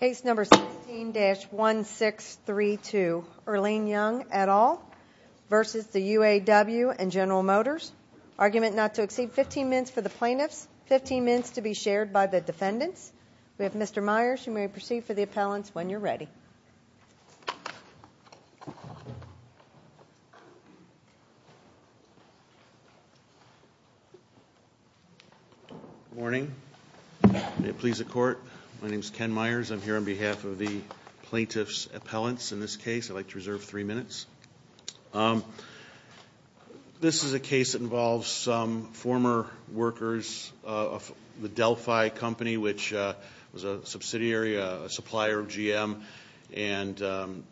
Case number 16-1632, Earline Young et al. v. UAW and General Motors. Argument not to exceed 15 minutes for the plaintiffs, 15 minutes to be shared by the defendants. We have Mr. Myers. You may proceed for the appellants when you're ready. Good morning. May it please the court, my name is Ken Myers. I'm here on behalf of the plaintiffs' appellants in this case. I'd like to reserve three minutes. This is a case that involves some former workers of the Delphi Company, which was a subsidiary, a supplier of GM. And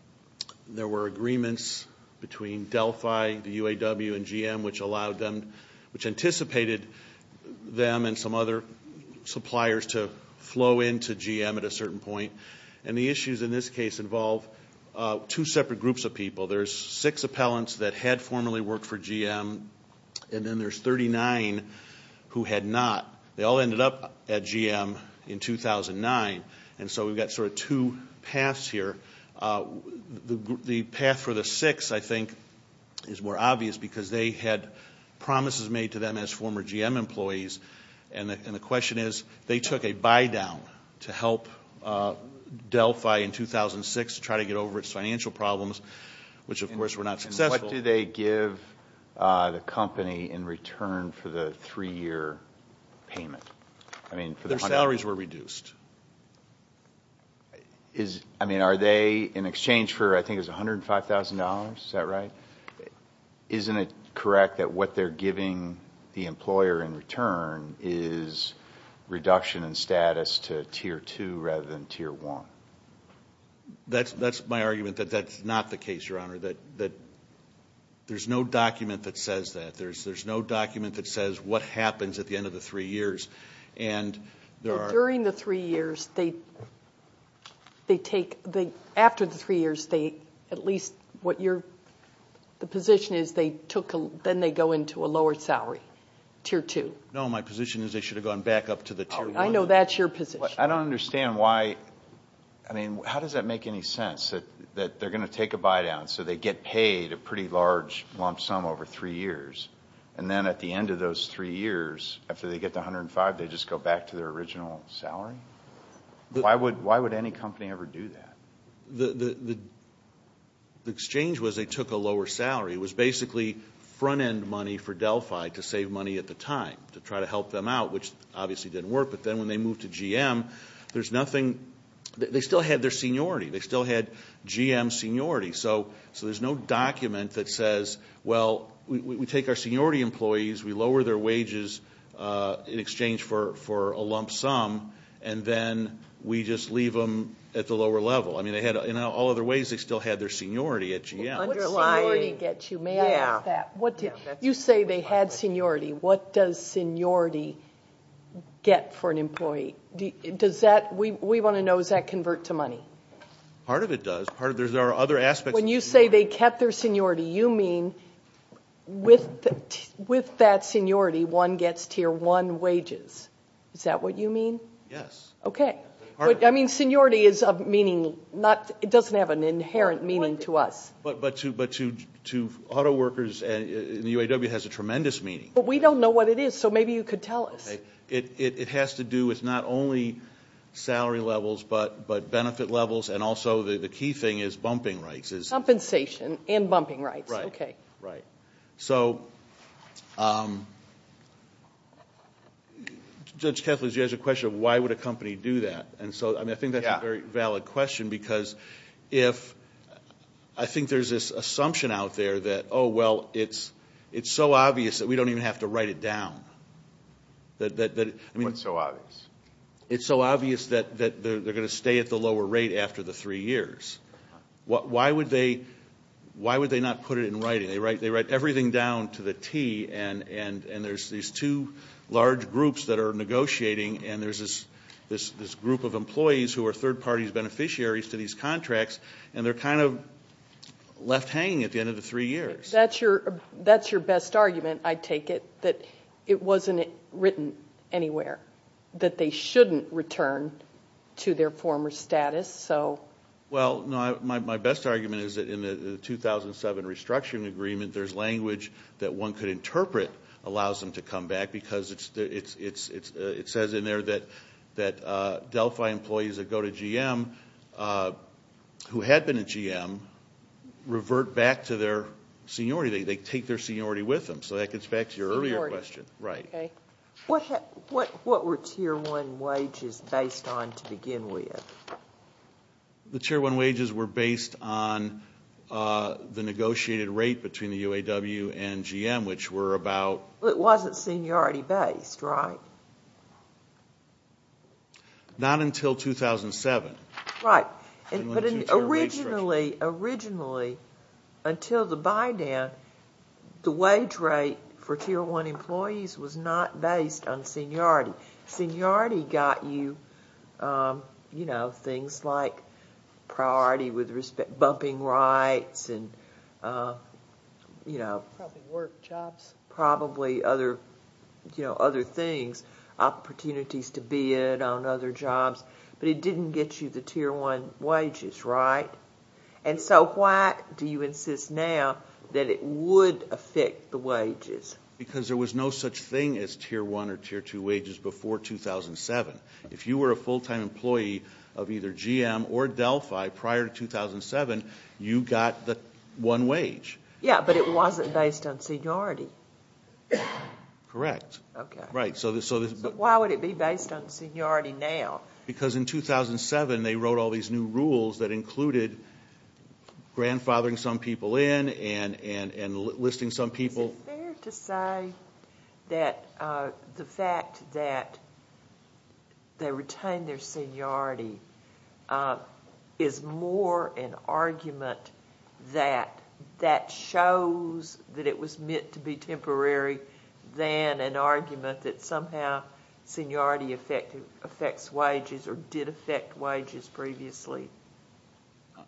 there were agreements between Delphi, the UAW, and GM, which allowed them, which anticipated them and some other suppliers to flow into GM at a certain point. And the issues in this case involve two separate groups of people. There's six appellants that had formerly worked for GM, and then there's 39 who had not. They all ended up at GM in 2009, and so we've got sort of two paths here. The path for the six, I think, is more obvious because they had promises made to them as former GM employees, and the question is they took a buy-down to help Delphi in 2006 try to get over its financial problems, which of course were not successful. And what did they give the company in return for the three-year payment? Their salaries were reduced. I mean, are they, in exchange for, I think it was $105,000, is that right? Isn't it correct that what they're giving the employer in return is reduction in status to Tier 2 rather than Tier 1? That's my argument that that's not the case, Your Honor, that there's no document that says that. There's no document that says what happens at the end of the three years. During the three years, they take, after the three years, they, at least what you're, the position is they took, then they go into a lower salary, Tier 2. No, my position is they should have gone back up to the Tier 1. I know that's your position. I don't understand why, I mean, how does that make any sense, that they're going to take a buy-down, so they get paid a pretty large lump sum over three years, and then at the end of those three years, after they get the $105,000, they just go back to their original salary? Why would any company ever do that? The exchange was they took a lower salary. It was basically front-end money for Delphi to save money at the time to try to help them out, which obviously didn't work. But then when they moved to GM, there's nothing, they still had their seniority. They still had GM's seniority. So there's no document that says, well, we take our seniority employees, we lower their wages in exchange for a lump sum, and then we just leave them at the lower level. I mean, they had, in all other ways, they still had their seniority at GM. What does seniority get you? May I ask that? You say they had seniority. What does seniority get for an employee? We want to know, does that convert to money? Part of it does. There are other aspects. When you say they kept their seniority, you mean with that seniority, one gets Tier 1 wages. Is that what you mean? Yes. Okay. I mean, seniority doesn't have an inherent meaning to us. But to auto workers in the UAW, it has a tremendous meaning. But we don't know what it is, so maybe you could tell us. It has to do with not only salary levels, but benefit levels, and also the key thing is bumping rights. Compensation and bumping rights. Right. Okay. Right. So, Judge Kethledge, you asked a question of why would a company do that. And so, I mean, I think that's a very valid question because if – I think there's this assumption out there that, oh, well, it's so obvious that we don't even have to write it down. What's so obvious? It's so obvious that they're going to stay at the lower rate after the three years. Why would they not put it in writing? They write everything down to the T, and there's these two large groups that are negotiating, and there's this group of employees who are third-party beneficiaries to these contracts, and they're kind of left hanging at the end of the three years. That's your best argument, I take it, that it wasn't written anywhere, that they shouldn't return to their former status. Well, no, my best argument is that in the 2007 restructuring agreement, there's language that one could interpret allows them to come back because it says in there that Delphi employees that go to GM who had been at GM revert back to their seniority. They take their seniority with them. So that gets back to your earlier question. What were Tier 1 wages based on to begin with? The Tier 1 wages were based on the negotiated rate between the UAW and GM, which were about – It wasn't seniority-based, right? No. Not until 2007. Right. Originally, until the buy-down, the wage rate for Tier 1 employees was not based on seniority. Seniority got you things like priority with respect – bumping rights and – Probably work, jobs. Probably other things, opportunities to bid on other jobs. But it didn't get you the Tier 1 wages, right? And so why do you insist now that it would affect the wages? Because there was no such thing as Tier 1 or Tier 2 wages before 2007. If you were a full-time employee of either GM or Delphi prior to 2007, you got the one wage. Yeah, but it wasn't based on seniority. Correct. Okay. Right. So why would it be based on seniority now? Because in 2007, they wrote all these new rules that included grandfathering some people in and listing some people. Is it fair to say that the fact that they retained their seniority is more an argument that shows that it was meant to be temporary than an argument that somehow seniority affects wages or did affect wages previously?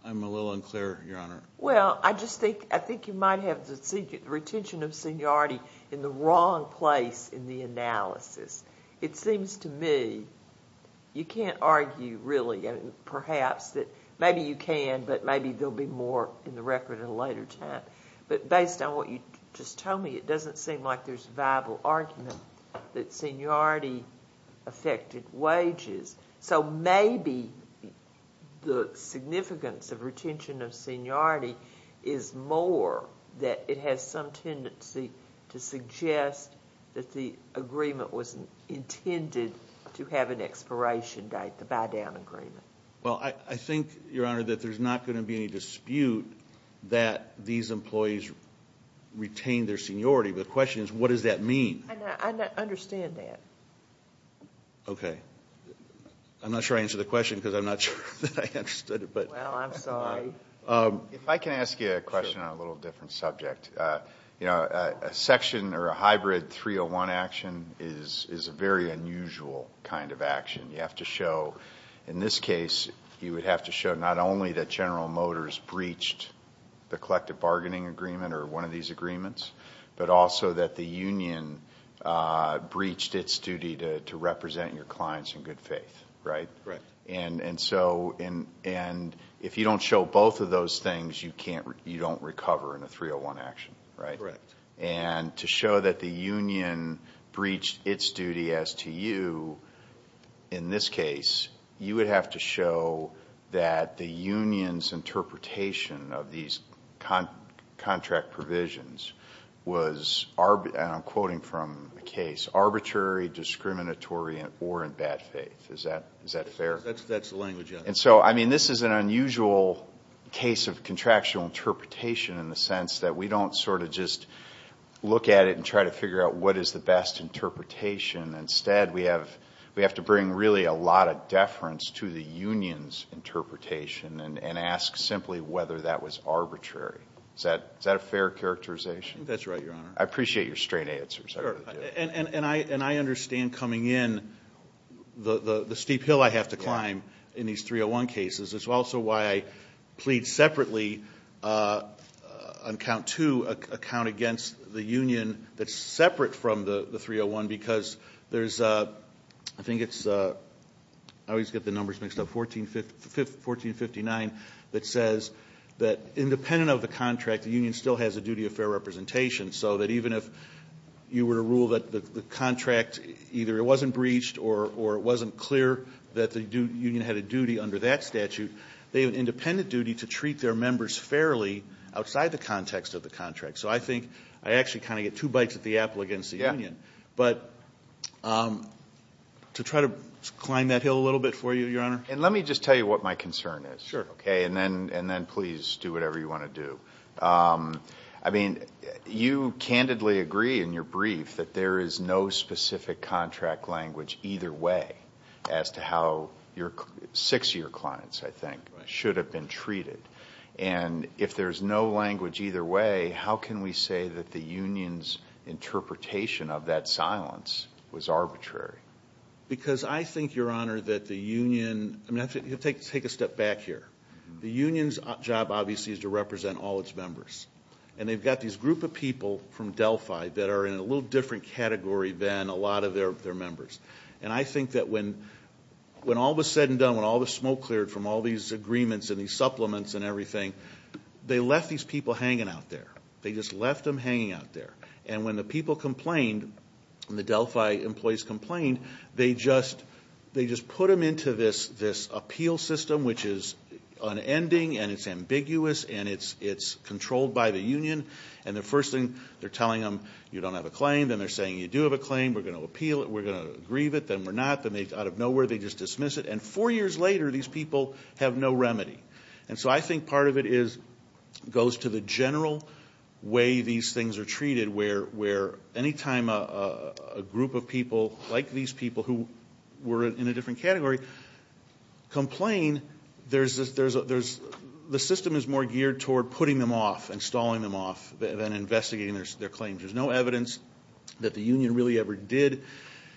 I'm a little unclear, Your Honor. Well, I just think – I think you might have the retention of seniority in the wrong place in the analysis. It seems to me you can't argue really – perhaps that maybe you can, but maybe there'll be more in the record at a later time. But based on what you just told me, it doesn't seem like there's a viable argument that seniority affected wages. So maybe the significance of retention of seniority is more that it has some tendency to suggest that the agreement was intended to have an expiration date, the buy-down agreement. Well, I think, Your Honor, that there's not going to be any dispute that these employees retained their seniority. The question is what does that mean? I understand that. Okay. I'm not sure I answered the question because I'm not sure that I understood it. Well, I'm sorry. If I can ask you a question on a little different subject. A section or a hybrid 301 action is a very unusual kind of action. You have to show – in this case, you would have to show not only that General Motors breached the collective bargaining agreement or one of these agreements, but also that the union breached its duty to represent your clients in good faith, right? Right. And if you don't show both of those things, you don't recover in a 301 action, right? Right. And to show that the union breached its duty as to you in this case, you would have to show that the union's interpretation of these contract provisions was, and I'm quoting from the case, arbitrary, discriminatory, or in bad faith. Is that fair? That's the language, Your Honor. And so, I mean, this is an unusual case of contractual interpretation in the sense that we don't sort of just look at it and try to figure out what is the best interpretation. Instead, we have to bring really a lot of deference to the union's interpretation and ask simply whether that was arbitrary. Is that a fair characterization? I think that's right, Your Honor. I appreciate your straight answers. I really do. And I understand coming in the steep hill I have to climb in these 301 cases. It's also why I plead separately on count two, a count against the union that's separate from the 301 because there's, I think it's, I always get the numbers mixed up, 1459 that says that independent of the contract, the union still has a duty of fair representation. So that even if you were to rule that the contract, either it wasn't breached or it wasn't clear that the union had a duty under that statute, they have an independent duty to treat their members fairly outside the context of the contract. So I think I actually kind of get two bites at the apple against the union. Yeah. But to try to climb that hill a little bit for you, Your Honor. And let me just tell you what my concern is. Sure. Okay? And then please do whatever you want to do. I mean, you candidly agree in your brief that there is no specific contract language either way as to how your six-year clients, I think, should have been treated. And if there's no language either way, how can we say that the union's interpretation of that silence was arbitrary? Because I think, Your Honor, that the union, I mean, take a step back here. The union's job, obviously, is to represent all its members. And they've got these group of people from Delphi that are in a little different category than a lot of their members. And I think that when all was said and done, when all the smoke cleared from all these agreements and these supplements and everything, they left these people hanging out there. They just left them hanging out there. And when the people complained, the Delphi employees complained, they just put them into this appeal system, which is unending and it's ambiguous and it's controlled by the union. And the first thing they're telling them, you don't have a claim. Then they're saying, you do have a claim. We're going to appeal it. We're going to grieve it. Then we're not. Then out of nowhere, they just dismiss it. And four years later, these people have no remedy. And so I think part of it goes to the general way these things are treated, where any time a group of people like these people who were in a different category complain, the system is more geared toward putting them off and stalling them off than investigating their claims. There's no evidence that the union really ever did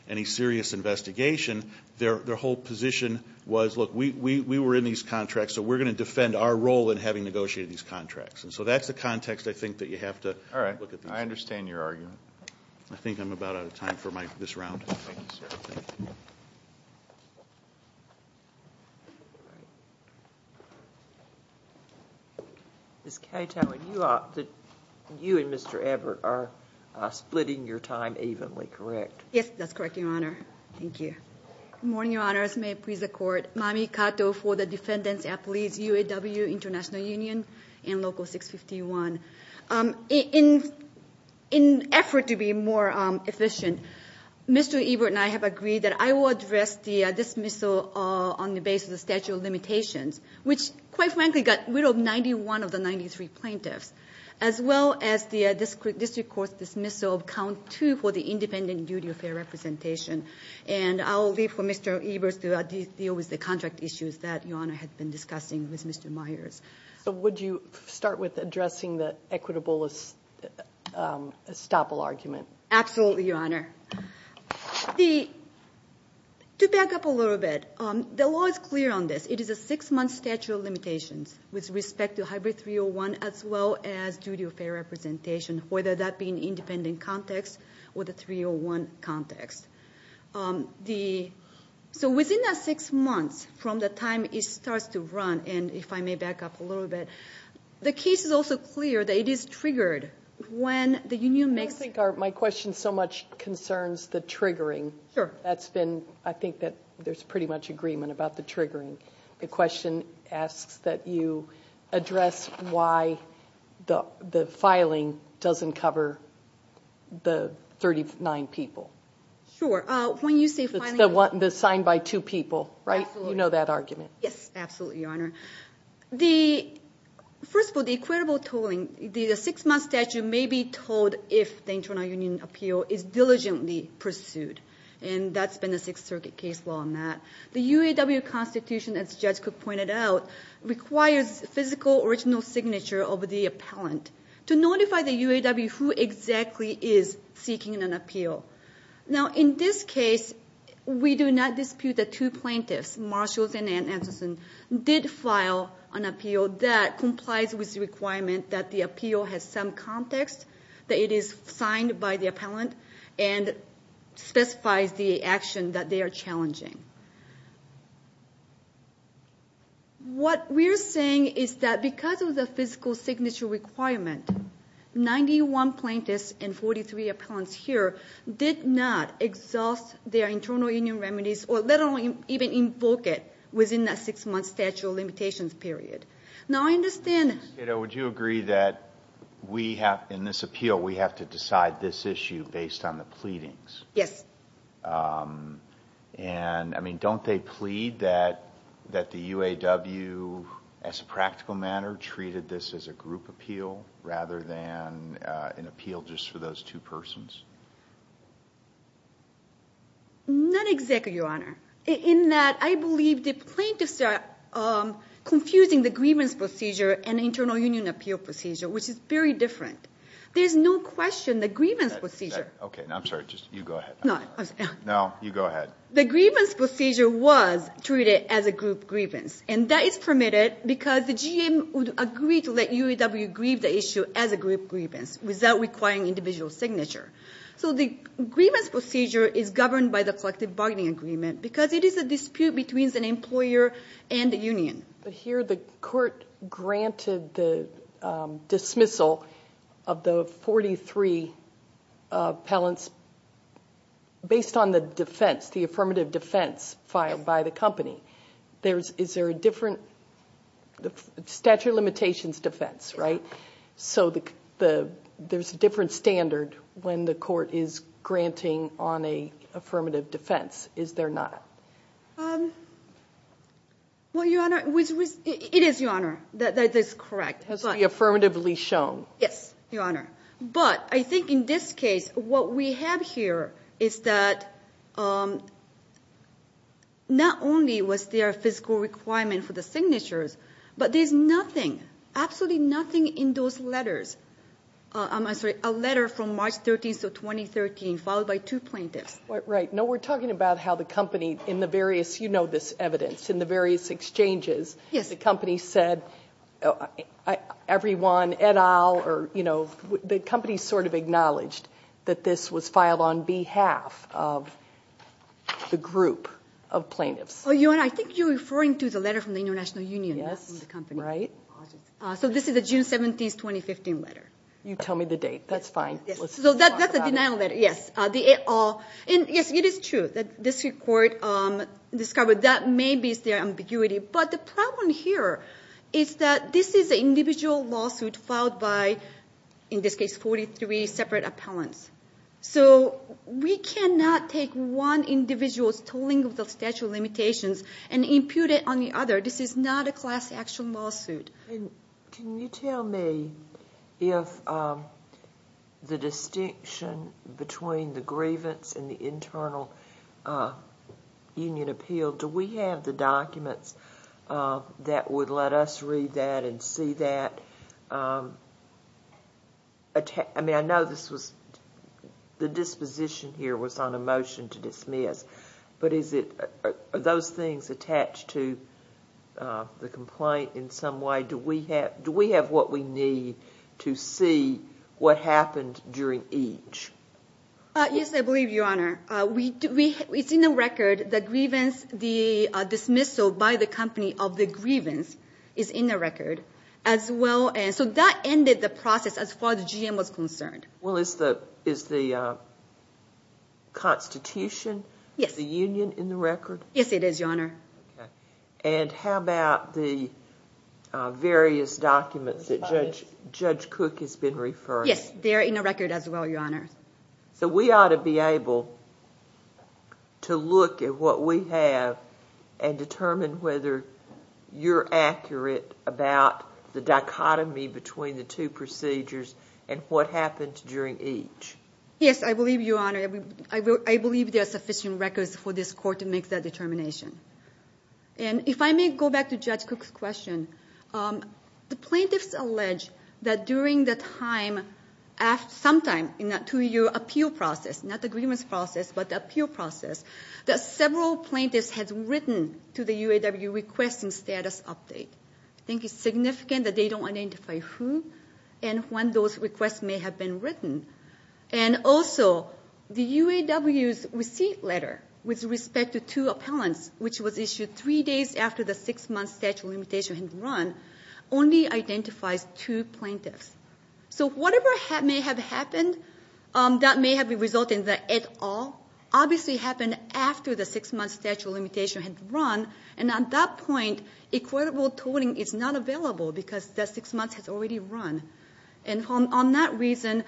any serious investigation. Their whole position was, look, we were in these contracts, so we're going to defend our role in having negotiated these contracts. And so that's the context I think that you have to look at. All right. I understand your argument. I think I'm about out of time for this round. Thank you, sir. Ms. Cato, you and Mr. Abbott are splitting your time evenly, correct? Yes, that's correct, Your Honor. Thank you. Good morning, Your Honors. May it please the Court. Mami Cato for the Defendants' Appeals, UAW International Union and Local 651. In an effort to be more efficient, Mr. Ebert and I have agreed that I will address the dismissal on the basis of statute of limitations, which quite frankly got rid of 91 of the 93 plaintiffs, as well as the district court's dismissal of count two for the independent duty of fair representation. And I'll leave for Mr. Ebert to deal with the contract issues that Your Honor has been discussing with Mr. Myers. So would you start with addressing the equitable estoppel argument? Absolutely, Your Honor. To back up a little bit, the law is clear on this. It is a six-month statute of limitations with respect to hybrid 301, as well as duty of fair representation, whether that be in independent context or the 301 context. So within that six months from the time it starts to run, and if I may back up a little bit, the case is also clear that it is triggered when the union makes- I don't think my question so much concerns the triggering. That's been- I think that there's pretty much agreement about the triggering. The question asks that you address why the filing doesn't cover the 39 people. Sure. When you say filing- It's the signed by two people, right? Absolutely. Yes, absolutely, Your Honor. First of all, the equitable tolling, the six-month statute may be tolled if the internal union appeal is diligently pursued, and that's been a Sixth Circuit case law on that. The UAW constitution, as Judge Cook pointed out, requires physical original signature of the appellant to notify the UAW who exactly is seeking an appeal. Now, in this case, we do not dispute that two plaintiffs, Marshalls and Anstetson, did file an appeal that complies with the requirement that the appeal has some context, that it is signed by the appellant, and specifies the action that they are challenging. What we're saying is that because of the physical signature requirement, 91 plaintiffs and 43 appellants here did not exhaust their internal union remedies or let alone even invoke it within that six-month statute limitations period. Now, I understand- Kato, would you agree that in this appeal, we have to decide this issue based on the pleadings? Yes. And, I mean, don't they plead that the UAW, as a practical matter, treated this as a group appeal rather than an appeal just for those two persons? Not exactly, Your Honor. In that, I believe the plaintiffs are confusing the grievance procedure and internal union appeal procedure, which is very different. There's no question the grievance procedure- Okay, I'm sorry. You go ahead. No, I'm sorry. No, you go ahead. The grievance procedure was treated as a group grievance, and that is permitted because the GM would agree to let UAW grieve the issue as a group grievance without requiring individual signature. So the grievance procedure is governed by the collective bargaining agreement because it is a dispute between the employer and the union. But here, the court granted the dismissal of the 43 appellants based on the defense, the affirmative defense filed by the company. Is there a different statute of limitations defense, right? So there's a different standard when the court is granting on a affirmative defense. Is there not? Well, Your Honor, it is, Your Honor. That is correct. It has to be affirmatively shown. Yes, Your Honor. But I think in this case, what we have here is that not only was there a physical requirement for the signatures, but there's nothing, absolutely nothing in those letters. I'm sorry, a letter from March 13th of 2013 followed by two plaintiffs. Right. No, we're talking about how the company, in the various, you know this evidence, in the various exchanges, the company said everyone et al. The company sort of acknowledged that this was filed on behalf of the group of plaintiffs. Oh, Your Honor, I think you're referring to the letter from the International Union. Yes, right. So this is a June 17th, 2015 letter. You tell me the date. That's fine. So that's a denial letter, yes. Yes, it is true that this court discovered that maybe it's their ambiguity. But the problem here is that this is an individual lawsuit filed by, in this case, 43 separate appellants. So we cannot take one individual's tolling of the statute of limitations and impute it on the other. This is not a class action lawsuit. Can you tell me if the distinction between the grievance and the internal union appeal, do we have the documents that would let us read that and see that? I mean, I know this was, the disposition here was on a motion to dismiss, but are those things attached to the complaint in some way? Do we have what we need to see what happened during each? Yes, I believe, Your Honor. It's in the record. The dismissal by the company of the grievance is in the record as well. So that ended the process as far as the GM was concerned. Well, is the constitution, the union in the record? Yes, it is, Your Honor. And how about the various documents that Judge Cook has been referring to? Yes, they're in the record as well, Your Honor. So we ought to be able to look at what we have and determine whether you're accurate about the dichotomy between the two procedures and what happened during each. Yes, I believe, Your Honor. I believe there are sufficient records for this court to make that determination. And if I may go back to Judge Cook's question, the plaintiffs allege that during the time, sometime in the two-year appeal process, not the grievance process, but the appeal process, that several plaintiffs had written to the UAW requesting status update. I think it's significant that they don't identify who and when those requests may have been written. And also, the UAW's receipt letter with respect to two appellants, which was issued three days after the six-month statute of limitation had run, only identifies two plaintiffs. So whatever may have happened, that may have resulted in the et al. Obviously it happened after the six-month statute of limitation had run, and at that point, equitable tolling is not available because that six months has already run. And on that reason,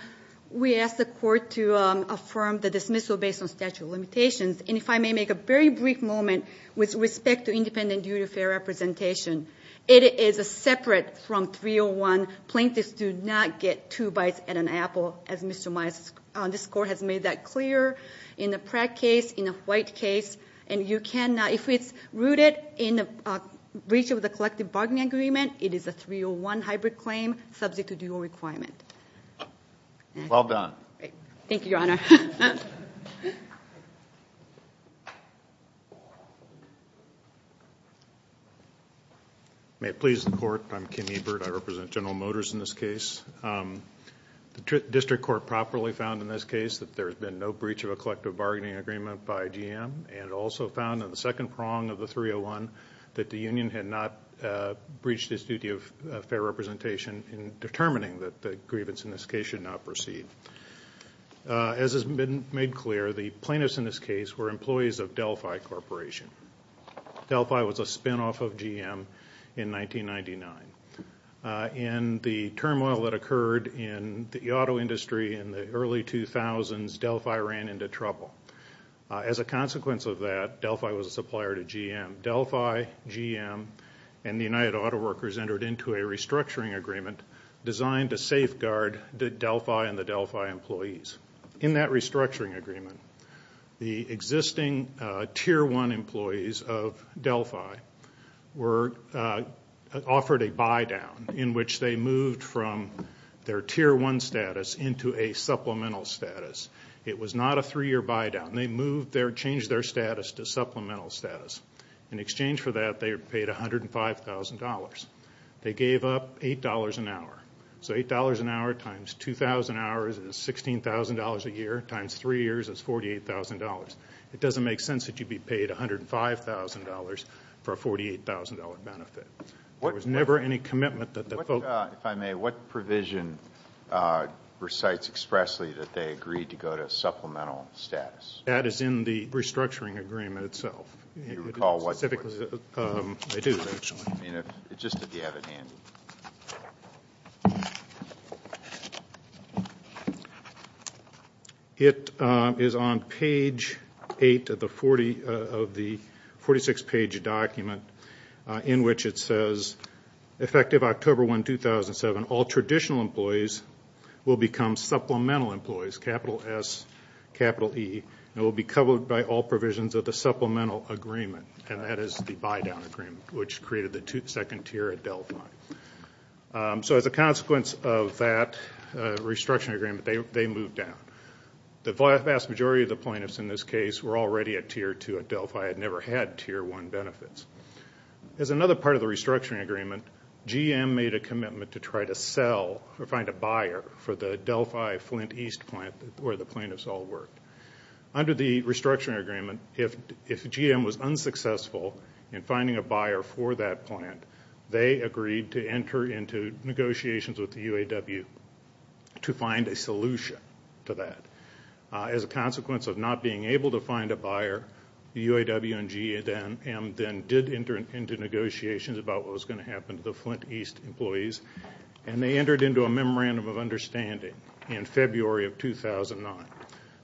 we ask the court to affirm the dismissal based on statute of limitations. And if I may make a very brief moment with respect to independent duty of fair representation. It is separate from 301. Plaintiffs do not get two bites at an apple, as Mr. Myers, this court has made that clear in the Pratt case, in the White case. And you can, if it's rooted in a breach of the collective bargaining agreement, it is a 301 hybrid claim subject to dual requirement. Well done. Thank you, Your Honor. May it please the court, I'm Kim Ebert. I represent General Motors in this case. The district court properly found in this case that there's been no breach of a collective bargaining agreement by GM and also found in the second prong of the 301 that the union had not breached its duty of fair representation in determining that the grievance in this case should not proceed. As has been made clear, the plaintiffs in this case were employees of Delphi Corporation. Delphi was a spinoff of GM in 1999. In the turmoil that occurred in the auto industry in the early 2000s, Delphi ran into trouble. As a consequence of that, Delphi was a supplier to GM. Delphi, GM, and the United Auto Workers entered into a restructuring agreement designed to safeguard Delphi and the Delphi employees. In that restructuring agreement, the existing Tier 1 employees of Delphi were offered a buy-down in which they moved from their Tier 1 status into a supplemental status. It was not a three-year buy-down. They changed their status to supplemental status. In exchange for that, they were paid $105,000. They gave up $8 an hour. So $8 an hour times 2,000 hours is $16,000 a year times three years is $48,000. It doesn't make sense that you'd be paid $105,000 for a $48,000 benefit. There was never any commitment that the folks If I may, what provision recites expressly that they agreed to go to supplemental status? That is in the restructuring agreement itself. Do you recall what it was? I do, actually. Just if you have it handy. It is on page 8 of the 46-page document in which it says, Effective October 1, 2007, all traditional employees will become supplemental employees, capital S, capital E, and will be covered by all provisions of the supplemental agreement, and that is the buy-down agreement, which created the second tier at Delphi. So as a consequence of that restructuring agreement, they moved down. The vast majority of the plaintiffs in this case were already at Tier 2 at Delphi and never had Tier 1 benefits. As another part of the restructuring agreement, GM made a commitment to try to sell or find a buyer for the Delphi-Flint East plant, where the plaintiffs all worked. Under the restructuring agreement, if GM was unsuccessful in finding a buyer for that plant, they agreed to enter into negotiations with the UAW to find a solution to that. As a consequence of not being able to find a buyer, the UAW and GM then did enter into negotiations about what was going to happen to the Flint East employees, and they entered into a memorandum of understanding in February of 2009.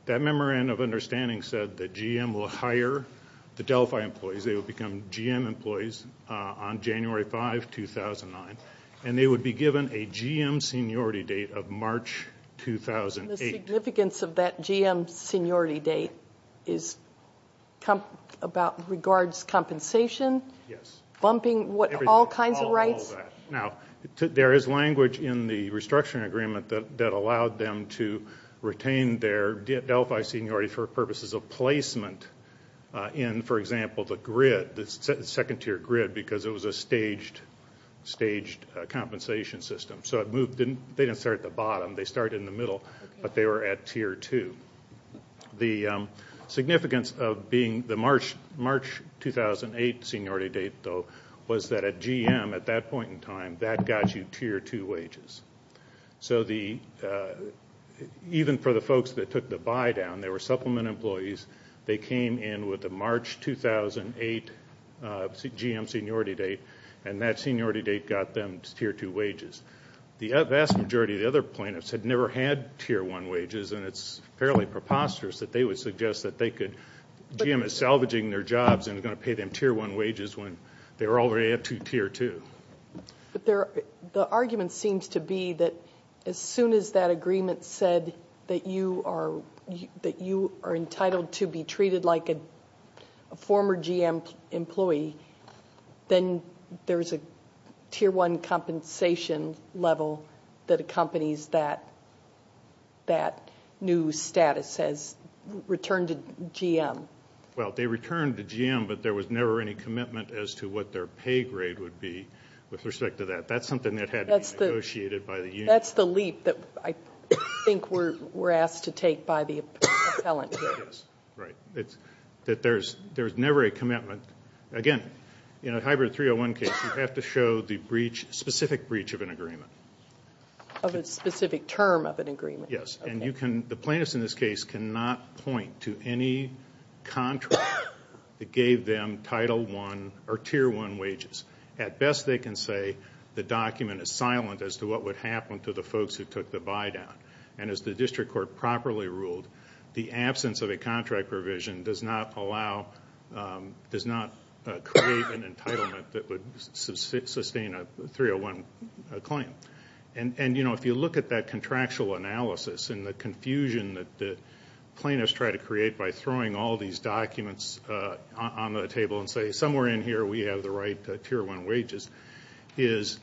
That memorandum of understanding said that GM will hire the Delphi employees. They will become GM employees on January 5, 2009, and they would be given a GM seniority date of March 2008. The significance of that GM seniority date regards compensation? Yes. Bumping all kinds of rights? There is language in the restructuring agreement that allowed them to retain their Delphi seniority for purposes of placement in, for example, the grid, the second-tier grid, because it was a staged compensation system. So they didn't start at the bottom. They started in the middle, but they were at Tier 2. was that at GM, at that point in time, that got you Tier 2 wages. So even for the folks that took the buy-down, they were supplement employees. They came in with a March 2008 GM seniority date, and that seniority date got them Tier 2 wages. The vast majority of the other plaintiffs had never had Tier 1 wages, and it's fairly preposterous that they would suggest that they could, that GM is salvaging their jobs and is going to pay them Tier 1 wages when they were already at Tier 2. The argument seems to be that as soon as that agreement said that you are entitled to be treated like a former GM employee, then there's a Tier 1 compensation level that accompanies that new status as return to GM. Well, they returned to GM, but there was never any commitment as to what their pay grade would be with respect to that. That's something that had to be negotiated by the union. That's the leap that I think we're asked to take by the appellant. Right, that there's never a commitment. Again, in a hybrid 301 case, you have to show the specific breach of an agreement. Of a specific term of an agreement. Yes, and the plaintiffs in this case cannot point to any contract that gave them Title 1 or Tier 1 wages. At best, they can say the document is silent as to what would happen to the folks who took the buy-down. And as the district court properly ruled, the absence of a contract provision does not allow, does not create an entitlement that would sustain a 301 claim. And, you know, if you look at that contractual analysis and the confusion that the plaintiffs try to create by throwing all these documents on the table and say somewhere in here we have the right Tier 1 wages, is,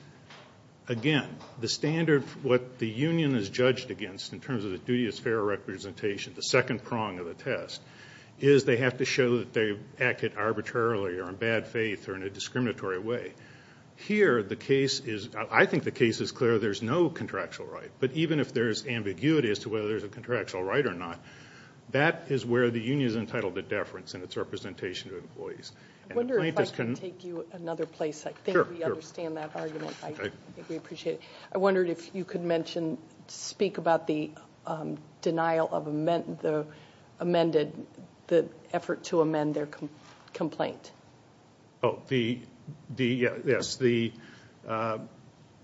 again, the standard, what the union is judged against in terms of the duty as fair representation, the second prong of the test, is they have to show that they acted arbitrarily or in bad faith or in a discriminatory way. Here, the case is, I think the case is clear, there's no contractual right. But even if there's ambiguity as to whether there's a contractual right or not, that is where the union is entitled to deference in its representation to employees. I wonder if I can take you another place. I think we understand that argument. I think we appreciate it. I wondered if you could mention, speak about the denial of the amended, the effort to amend their complaint. Oh, yes. The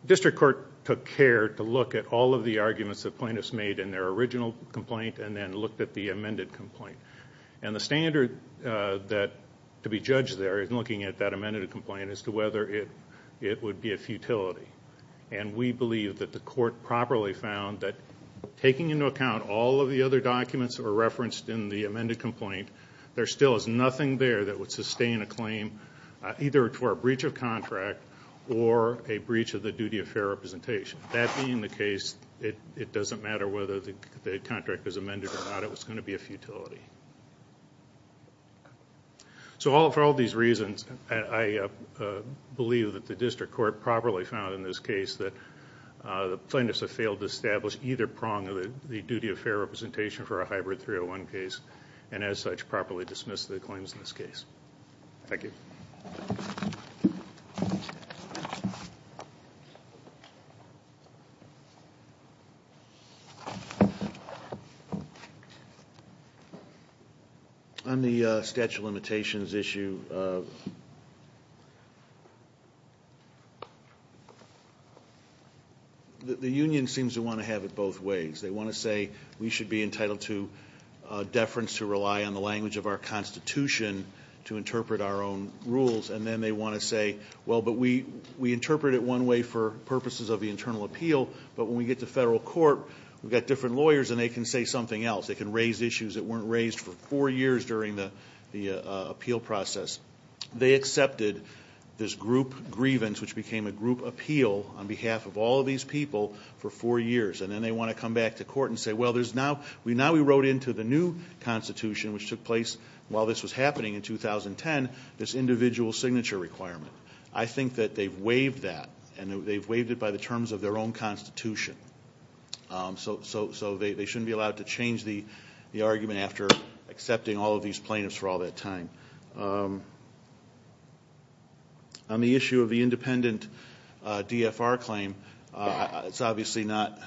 district court took care to look at all of the arguments the plaintiffs made in their original complaint and then looked at the amended complaint. And the standard to be judged there in looking at that amended complaint is to whether it would be a futility. And we believe that the court properly found that taking into account all of the other documents that were referenced in the amended complaint, there still is nothing there that would sustain a claim either for a breach of contract or a breach of the duty of fair representation. That being the case, it doesn't matter whether the contract is amended or not. It's going to be a futility. So for all these reasons, I believe that the district court properly found in this case that the plaintiffs have failed to establish either prong of the duty of fair representation for a hybrid 301 case and as such properly dismissed the claims in this case. Thank you. On the statute of limitations issue, the union seems to want to have it both ways. They want to say we should be entitled to deference to rely on the language of our constitution And then they want to say, well, but we interpret it one way for purposes of the internal appeal. But when we get to federal court, we've got different lawyers and they can say something else. They can raise issues that weren't raised for four years during the appeal process. They accepted this group grievance, which became a group appeal on behalf of all of these people for four years. And then they want to come back to court and say, well, now we wrote into the new constitution, which took place while this was happening in 2010, this individual signature requirement. I think that they've waived that, and they've waived it by the terms of their own constitution. So they shouldn't be allowed to change the argument after accepting all of these plaintiffs for all that time. On the issue of the independent DFR claim, it's obviously not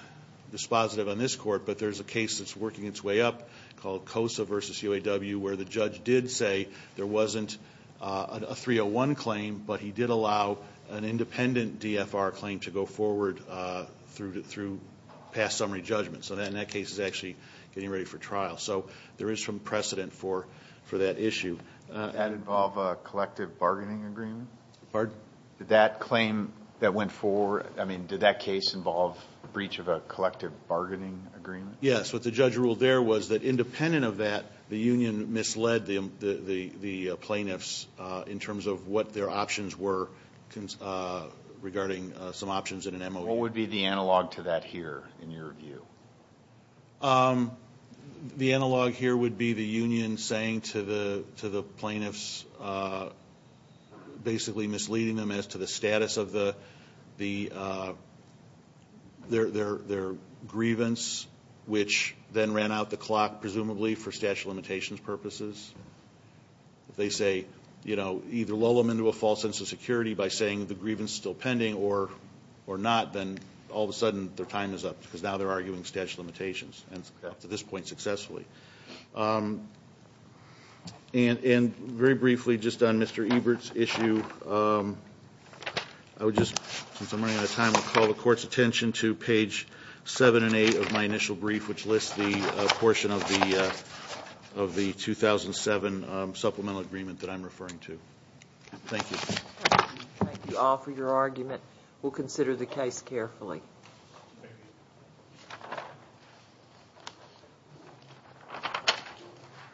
dispositive on this court, but there's a case that's working its way up called COSA versus UAW, where the judge did say there wasn't a 301 claim, but he did allow an independent DFR claim to go forward through past summary judgment. So in that case, it's actually getting ready for trial. So there is some precedent for that issue. Did that involve a collective bargaining agreement? Pardon? Did that claim that went forward, I mean, did that case involve breach of a collective bargaining agreement? Yes. What the judge ruled there was that independent of that, the union misled the plaintiffs in terms of what their options were regarding some options in an MOU. What would be the analog to that here in your view? The analog here would be the union saying to the plaintiffs, basically misleading them as to the status of their grievance, which then ran out the clock presumably for statute of limitations purposes. If they say, you know, either lull them into a false sense of security by saying the grievance is still pending or not, then all of a sudden their time is up because now they're arguing statute of limitations, and up to this point successfully. And very briefly, just on Mr. Ebert's issue, I would just, since I'm running out of time, call the court's attention to page 7 and 8 of my initial brief, which lists the portion of the 2007 supplemental agreement that I'm referring to. Thank you. Thank you all for your argument. We'll consider the case carefully.